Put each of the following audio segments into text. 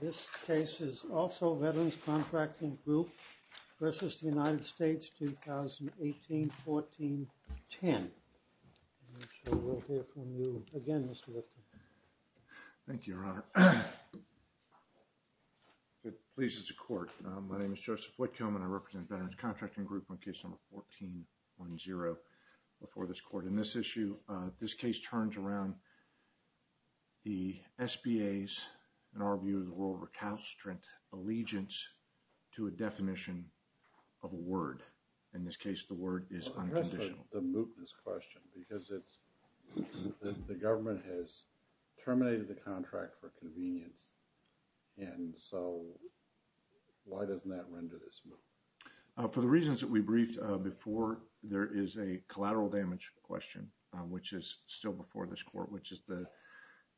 This case is also Veterans Contracting Group v. United States, 2018-14-10. I'm sure we'll hear from you again, Mr. Lifton. Thank you, Your Honor. If it pleases the court, my name is Joseph Whitcomb and I represent Veterans Contracting Group on case number 14-10 before this court. In this issue, this case turns around the SBA's, in our view, the world's recalcitrant allegiance to a definition of a word. In this case, the word is unconditional. The mootness question, because the government has terminated the contract for convenience. And so, why doesn't that render this moot? For the reasons that we briefed before, there is a collateral damage question, which is still before this court, which is the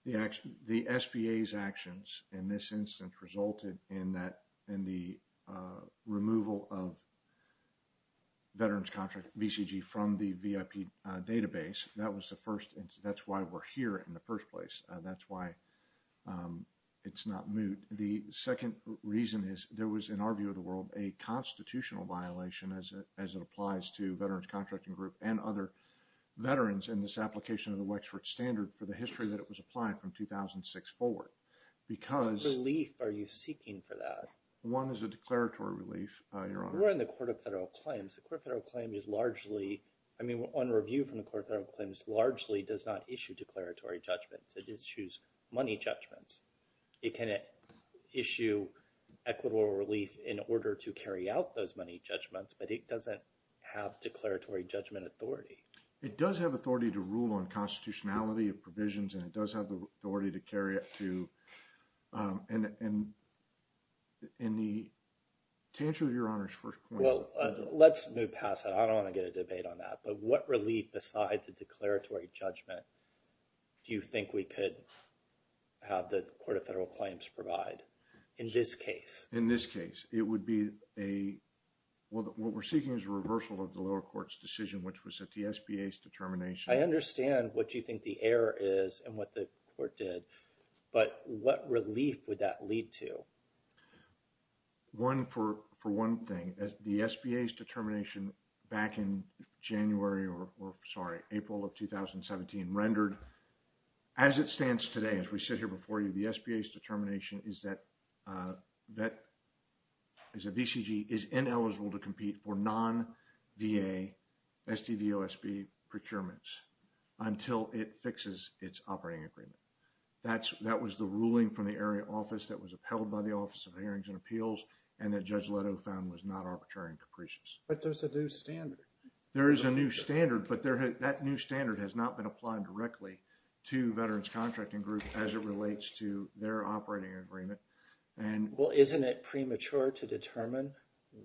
SBA's actions in this instance resulted in the removal of Veterans Contract BCG from the VIP database. That's why we're here in the first place. That's why it's not moot. The second reason is there was, in our view of the world, a constitutional violation as it applies to Veterans Contracting Group and other veterans in this application of the Wexford Standard for the history that it was applied from 2006 forward. What relief are you seeking for that? One is a declaratory relief, Your Honor. We're in the Court of Federal Claims. The Court of Federal Claims is largely, I mean, on review from the Court of Federal Claims, largely does not issue declaratory judgments. It issues money judgments. It can issue equitable relief in order to carry out those money judgments, but it doesn't have declaratory judgment authority. It does have authority to rule on constitutionality of provisions, and it does have the authority to carry it to – and the – to answer your Honor's first question. Well, let's move past that. I don't want to get a debate on that. But what relief besides a declaratory judgment do you think we could have the Court of Federal Claims provide in this case? In this case, it would be a – what we're seeking is a reversal of the lower court's decision, which was that the SBA's determination – I understand what you think the error is and what the court did, but what relief would that lead to? One – for one thing, the SBA's determination back in January – or, sorry, April of 2017 rendered, as it stands today, as we sit here before you, the SBA's determination is that – that a VCG is ineligible to compete for non-VA SDVOSB procurements until it fixes its operating agreement. That's – that was the ruling from the area office that was upheld by the Office of Hearings and Appeals and that Judge Leto found was not arbitrary and capricious. But there's a new standard. There is a new standard, but there – that new standard has not been applied directly to Veterans Contracting Group as it relates to their operating agreement. Well, isn't it premature to determine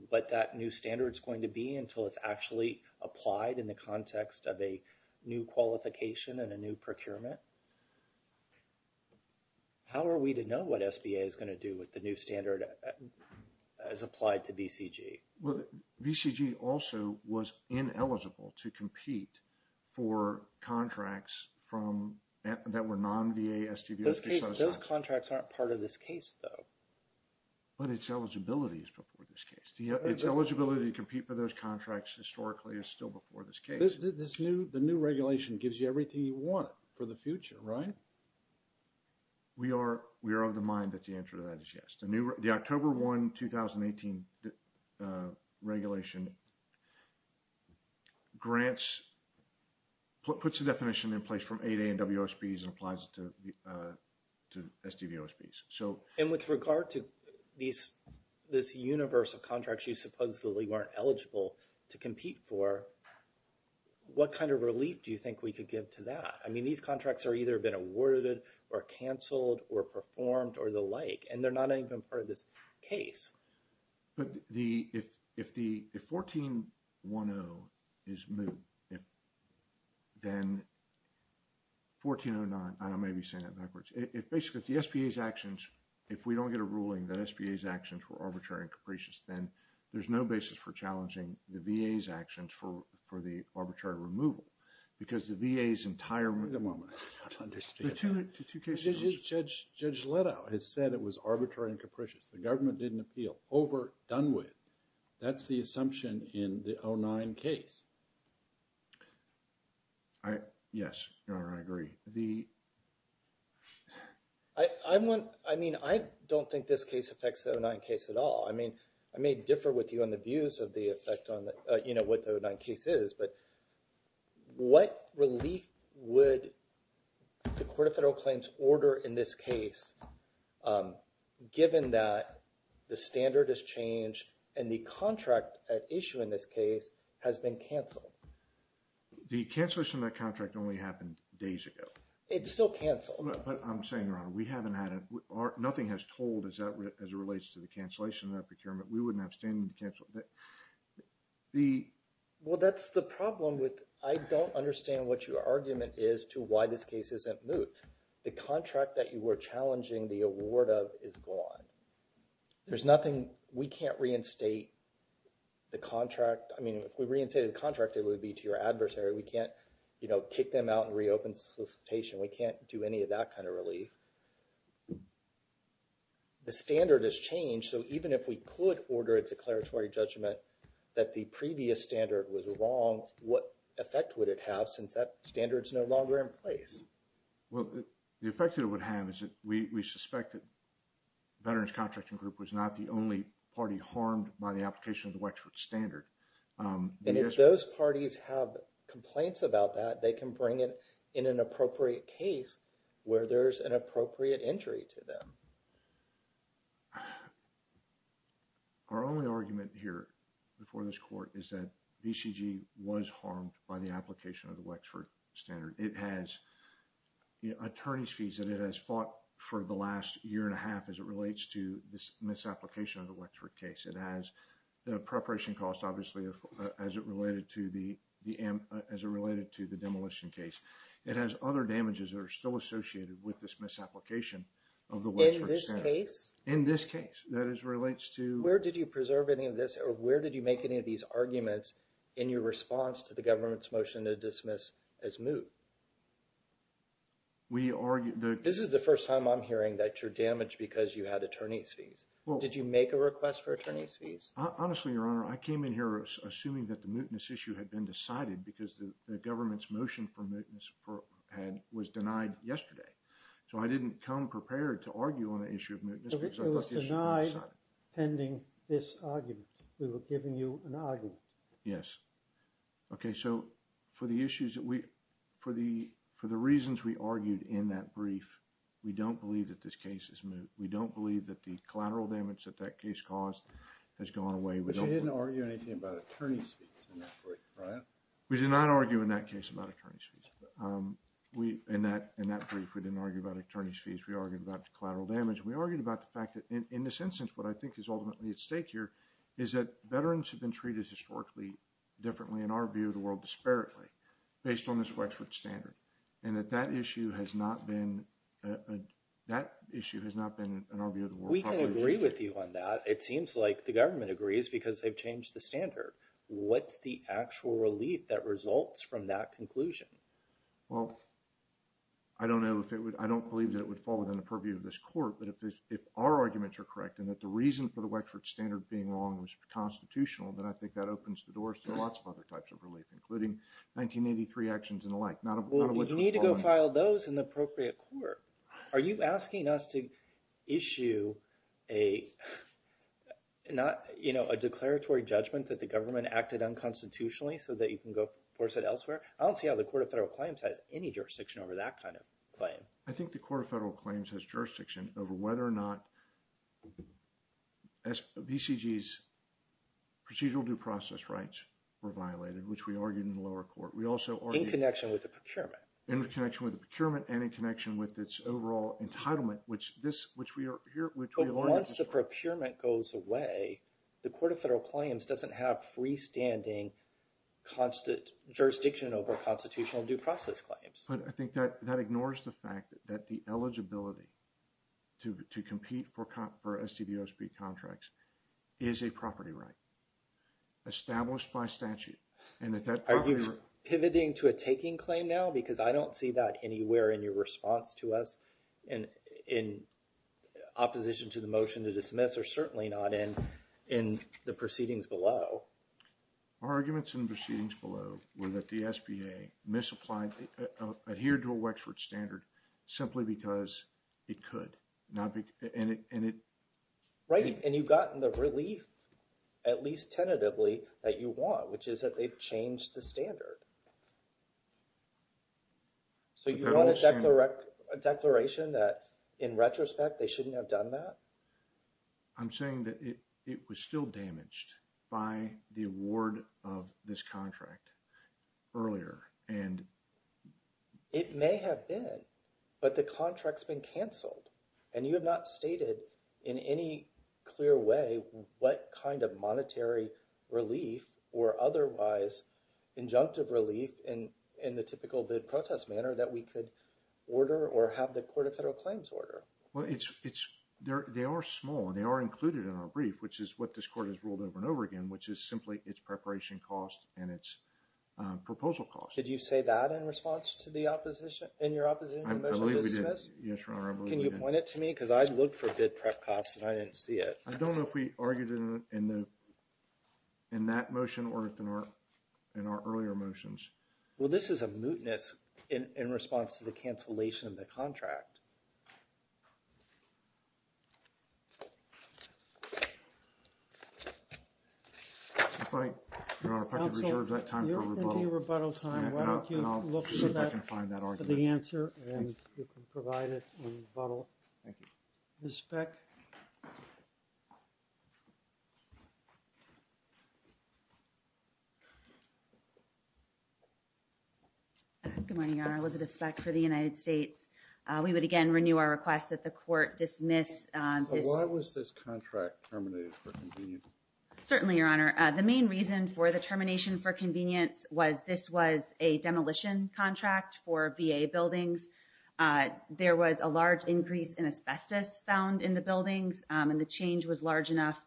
what that new standard is going to be until it's actually applied in the context of a new qualification and a new procurement? How are we to know what SBA is going to do with the new standard as applied to VCG? Well, VCG also was ineligible to compete for contracts from – that were non-VA SDVOSB. Those contracts aren't part of this case, though. But its eligibility is before this case. Its eligibility to compete for those contracts historically is still before this case. This new – the new regulation gives you everything you want for the future, right? We are – we are of the mind that the answer to that is yes. The October 1, 2018 regulation grants – puts a definition in place from 8A and WOSBs and applies it to SDVOSBs. So – And with regard to these – this universe of contracts you supposedly weren't eligible to compete for, what kind of relief do you think we could give to that? I mean, these contracts have either been awarded or canceled or performed or the like. And they're not even part of this case. But the – if the – if 1410 is moved, then 1409 – I may be saying that backwards. If basically the SBA's actions – if we don't get a ruling that SBA's actions were arbitrary and capricious, then there's no basis for challenging the VA's actions for the arbitrary removal. Because the VA's entire – Wait a moment. I don't understand. Judge Leto has said it was arbitrary and capricious. The government didn't appeal. Over. Done with. That's the assumption in the 09 case. I – yes. Your Honor, I agree. The – I'm one – I mean, I don't think this case affects the 09 case at all. I mean, I may differ with you on the views of the effect on the – you know, what the 09 case is. But what relief would the Court of Federal Claims order in this case given that the standard has changed and the contract at issue in this case has been canceled? The cancellation of that contract only happened days ago. It's still canceled. But I'm saying, Your Honor, we haven't had a – nothing has told us as it relates to the cancellation of that procurement. We wouldn't have standing to cancel it. The – well, that's the problem with – I don't understand what your argument is to why this case isn't moot. The contract that you were challenging the award of is gone. There's nothing – we can't reinstate the contract. I mean, if we reinstated the contract, it would be to your adversary. We can't, you know, kick them out and reopen solicitation. We can't do any of that kind of relief. The standard has changed. So even if we could order a declaratory judgment that the previous standard was wrong, what effect would it have since that standard is no longer in place? Well, the effect it would have is that we suspect that Veterans Contracting Group was not the only party harmed by the application of the Wexford Standard. And if those parties have complaints about that, they can bring it in an appropriate case where there's an appropriate entry to them. Our only argument here before this court is that VCG was harmed by the application of the Wexford Standard. It has attorney's fees that it has fought for the last year and a half as it relates to this misapplication of the Wexford case. It has the preparation cost, obviously, as it related to the demolition case. It has other damages that are still associated with this misapplication of the Wexford Standard. In this case? In this case. Where did you preserve any of this or where did you make any of these arguments in your response to the government's motion to dismiss as moot? This is the first time I'm hearing that you're damaged because you had attorney's fees. Did you make a request for attorney's fees? Honestly, Your Honor, I came in here assuming that the mootness issue had been decided because the government's motion for mootness was denied yesterday. So, I didn't come prepared to argue on the issue of mootness. So, it was denied pending this argument. We were giving you an argument. Yes. Okay, so for the issues that we, for the reasons we argued in that brief, we don't believe that this case is moot. We don't believe that the collateral damage that that case caused has gone away. But you didn't argue anything about attorney's fees in that brief, right? We did not argue in that case about attorney's fees. In that brief, we didn't argue about attorney's fees. We argued about the collateral damage. We argued about the fact that in this instance, what I think is ultimately at stake here is that veterans have been treated historically differently in our view of the world disparately based on this Wexford standard. And that that issue has not been, that issue has not been in our view of the world. We can agree with you on that. It seems like the government agrees because they've changed the standard. What's the actual relief that results from that conclusion? Well, I don't know if it would, I don't believe that it would fall within the purview of this court. But if our arguments are correct and that the reason for the Wexford standard being wrong was constitutional, then I think that opens the doors to lots of other types of relief, including 1983 actions and the like. Well, you need to go file those in the appropriate court. Are you asking us to issue a not, you know, a declaratory judgment that the government acted unconstitutionally so that you can go force it elsewhere? I don't see how the Court of Federal Claims has any jurisdiction over that kind of claim. I think the Court of Federal Claims has jurisdiction over whether or not BCG's procedural due process rights were violated, which we argued in the lower court. In connection with the procurement. In connection with the procurement and in connection with its overall entitlement, which this, which we are here, which we learned- But once the procurement goes away, the Court of Federal Claims doesn't have freestanding jurisdiction over constitutional due process claims. But I think that ignores the fact that the eligibility to compete for STD OSB contracts is a property right established by statute. Are you pivoting to a taking claim now? Because I don't see that anywhere in your response to us in opposition to the motion to dismiss or certainly not in the proceedings below. Our arguments in the proceedings below were that the SBA misapplied, adhered to a Wexford standard simply because it could. Right. And you've gotten the relief, at least tentatively, that you want, which is that they've changed the standard. So you want a declaration that in retrospect they shouldn't have done that? I'm saying that it was still damaged by the award of this contract earlier. It may have been, but the contract's been canceled and you have not stated in any clear way what kind of monetary relief or otherwise injunctive relief in the typical bid protest manner that we could order or have the Court of Federal Claims order. Well, it's there. They are small and they are included in our brief, which is what this court has ruled over and over again, which is simply its preparation cost and its proposal cost. Did you say that in response to the opposition in your office? Yes. Can you point it to me? Because I'd look for bid prep costs and I didn't see it. I don't know if we argued in the in that motion or in our in our earlier motions. Well, this is a mootness in response to the cancellation of the contract. Right. Your Honor, if I could reserve that time for rebuttal. You have plenty of rebuttal time. Why don't you look for that, for the answer and you can provide it in rebuttal. Thank you. Ms. Speck. Good morning, Your Honor. Elizabeth Speck for the United States. We would again renew our request that the court dismiss. Why was this contract terminated for convenience? Certainly, Your Honor. The main reason for the termination for convenience was this was a demolition contract for VA buildings. There was a large increase in asbestos found in the buildings and the change was large enough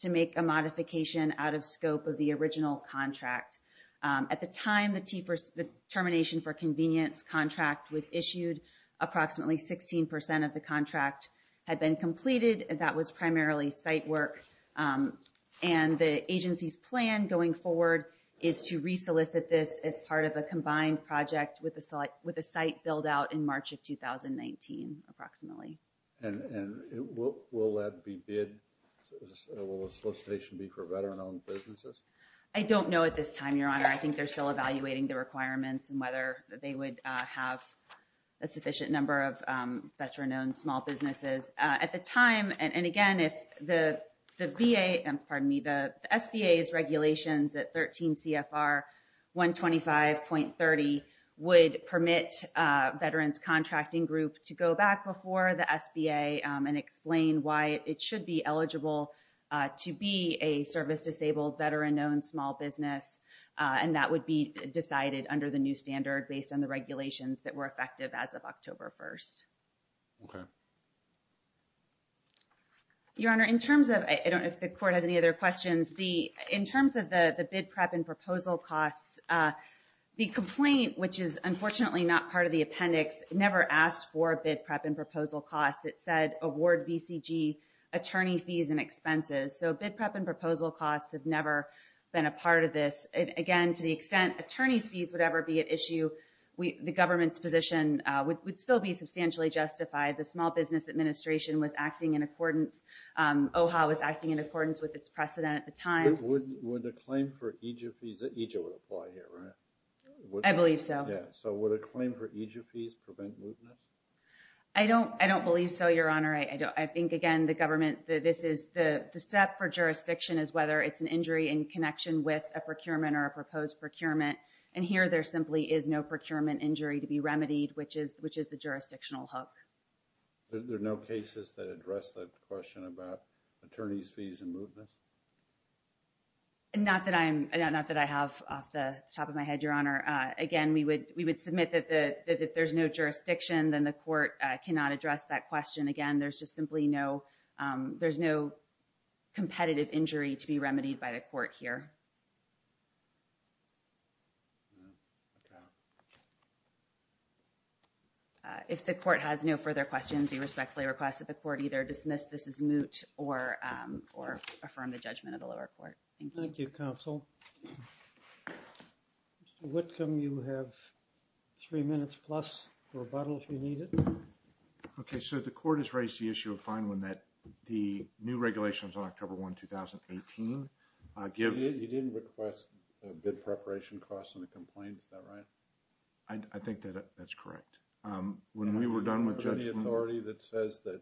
to make a modification out of scope of the original contract. At the time the termination for convenience contract was issued, approximately 16 percent of the contract had been completed. That was primarily site work. And the agency's plan going forward is to re-solicit this as part of a combined project with a site build out in March of 2019, approximately. And will that be bid? Will the solicitation be for veteran-owned businesses? I don't know at this time, Your Honor. I think they're still evaluating the requirements and whether they would have a sufficient number of veteran-owned small businesses. At the time, and again, if the VA, pardon me, the SBA's regulations at 13 CFR 125.30 would permit veterans contracting group to go back before the SBA and explain why it should be eligible to be a service-disabled veteran. And that would be decided under the new standard based on the regulations that were effective as of October 1st. Your Honor, in terms of, I don't know if the court has any other questions. In terms of the bid prep and proposal costs, the complaint, which is unfortunately not part of the appendix, never asked for bid prep and proposal costs. It said award VCG attorney fees and expenses. So bid prep and proposal costs have never been a part of this. Again, to the extent attorney's fees would ever be at issue, the government's position would still be substantially justified. The Small Business Administration was acting in accordance, OHA was acting in accordance with its precedent at the time. But would a claim for EGF fees, EGF would apply here, right? I believe so. Yeah, so would a claim for EGF fees prevent mootness? I don't believe so, Your Honor. I think, again, the government, the step for jurisdiction is whether it's an injury in connection with a procurement or a proposed procurement. And here there simply is no procurement injury to be remedied, which is the jurisdictional hook. There are no cases that address the question about attorney's fees and mootness? Not that I have off the top of my head, Your Honor. Again, we would submit that if there's no jurisdiction, then the court cannot address that question. Again, there's just simply no competitive injury to be remedied by the court here. If the court has no further questions, we respectfully request that the court either dismiss this as moot or affirm the judgment of the lower court. Thank you. Thank you, Counsel. Mr. Wickham, you have three minutes plus for rebuttal if you need it. Okay, so the court has raised the issue of fine when that the new regulations on October 1, 2018 give... You didn't request a bid preparation cost on the complaint, is that right? I think that that's correct. When we were done with judgment... The authority that says that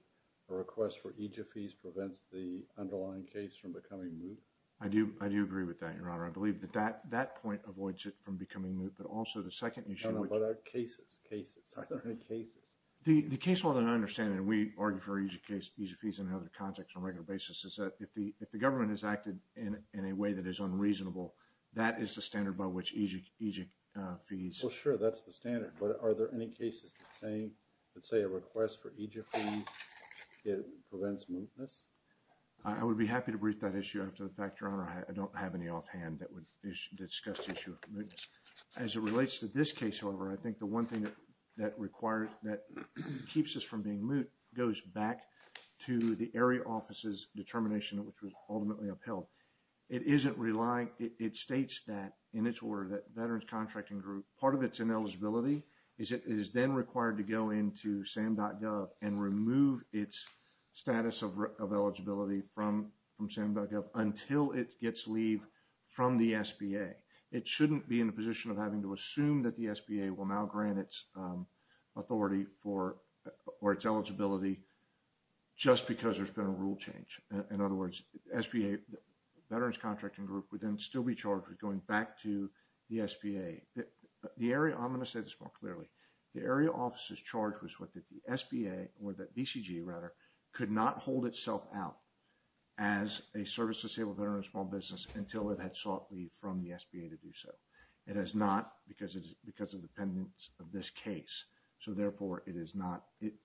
a request for EGF fees prevents the underlying case from becoming moot? I do agree with that, Your Honor. I believe that that point avoids it from becoming moot, but also the second issue... I don't know about our cases. Cases. Are there any cases? The case law that I understand, and we argue for EGF fees in another context on a regular basis, is that if the government has acted in a way that is unreasonable, that is the standard by which EGF fees... Well, sure, that's the standard, but are there any cases that say a request for EGF fees prevents mootness? I would be happy to brief that issue after the fact, Your Honor. I don't have any offhand that would discuss the issue of mootness. As it relates to this case, however, I think the one thing that keeps us from being moot goes back to the area office's determination, which was ultimately upheld. It states that in its order that Veterans Contracting Group, part of its ineligibility is it is then required to go into SAM.gov and remove its status of eligibility from SAM.gov until it gets leave from the SBA. It shouldn't be in a position of having to assume that the SBA will now grant its authority or its eligibility just because there's been a rule change. In other words, the SBA Veterans Contracting Group would then still be charged with going back to the SBA. I'm going to say this more clearly. The area office's charge was that the SBA, or the BCG rather, could not hold itself out as a service-disabled veteran in a small business until it had sought leave from the SBA to do so. It has not because of the pendants of this case. Therefore,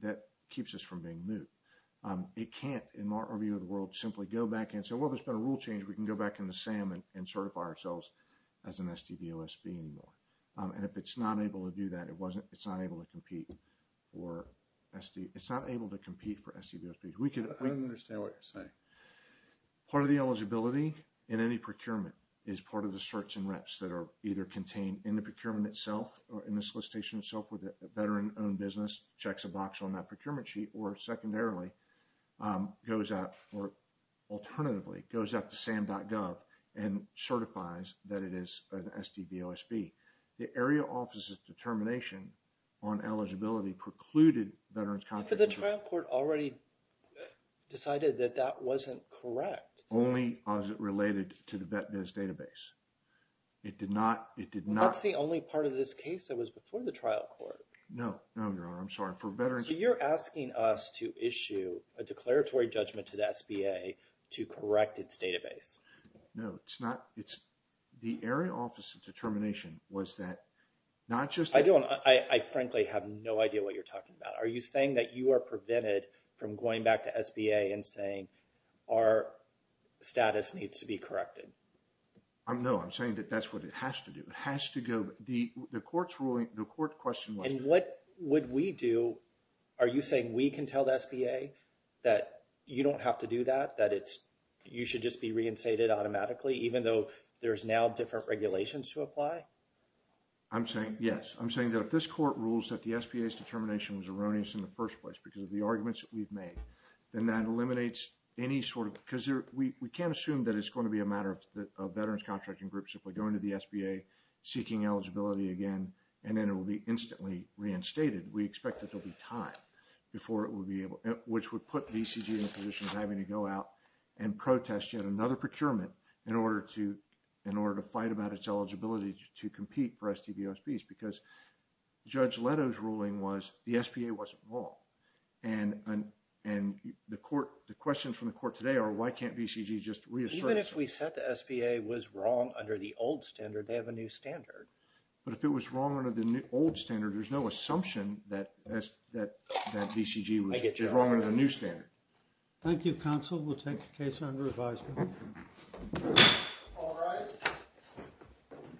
that keeps us from being moot. It can't, in our view of the world, simply go back and say, well, there's been a rule change. We can go back into SAM and certify ourselves as an SDVOSB anymore. And if it's not able to do that, it's not able to compete for SDVOSB. I don't understand what you're saying. Part of the eligibility in any procurement is part of the certs and reps that are either contained in the procurement itself or in the solicitation itself where the veteran-owned business checks a box on that procurement sheet or, secondarily, goes out or, alternatively, goes out to SAM.gov and certifies that it is an SDVOSB. The area office's determination on eligibility precluded Veterans Contracting Group. But the trial court already decided that that wasn't correct. Only as it related to the VET-Biz database. It did not. That's the only part of this case that was before the trial court. No. No, Your Honor. I'm sorry. For veterans- So you're asking us to issue a declaratory judgment to the SBA to correct its database. No. It's not. The area office's determination was that not just- I frankly have no idea what you're talking about. Are you saying that you are prevented from going back to SBA and saying our status needs to be corrected? No. I'm saying that that's what it has to do. It has to go. The court's ruling, the court question was- And what would we do? Are you saying we can tell the SBA that you don't have to do that? That you should just be reinstated automatically even though there's now different regulations to apply? I'm saying, yes. I'm saying that if this court rules that the SBA's determination was erroneous in the first place because of the arguments that we've made, then that eliminates any sort of- because we can't assume that it's going to be a matter of veterans contracting groups if we go into the SBA seeking eligibility again and then it will be instantly reinstated. We expect that there will be time before it will be able- which would put VCG in a position of having to go out and protest yet another procurement in order to fight about its eligibility to compete for STV OSPs because Judge Leto's ruling was the SBA wasn't wrong. And the questions from the court today are why can't VCG just reassert- Even if we said the SBA was wrong under the old standard, they have a new standard. But if it was wrong under the old standard, there's no assumption that VCG was wrong under the new standard. Thank you, counsel. We'll take the case under advisement. All rise.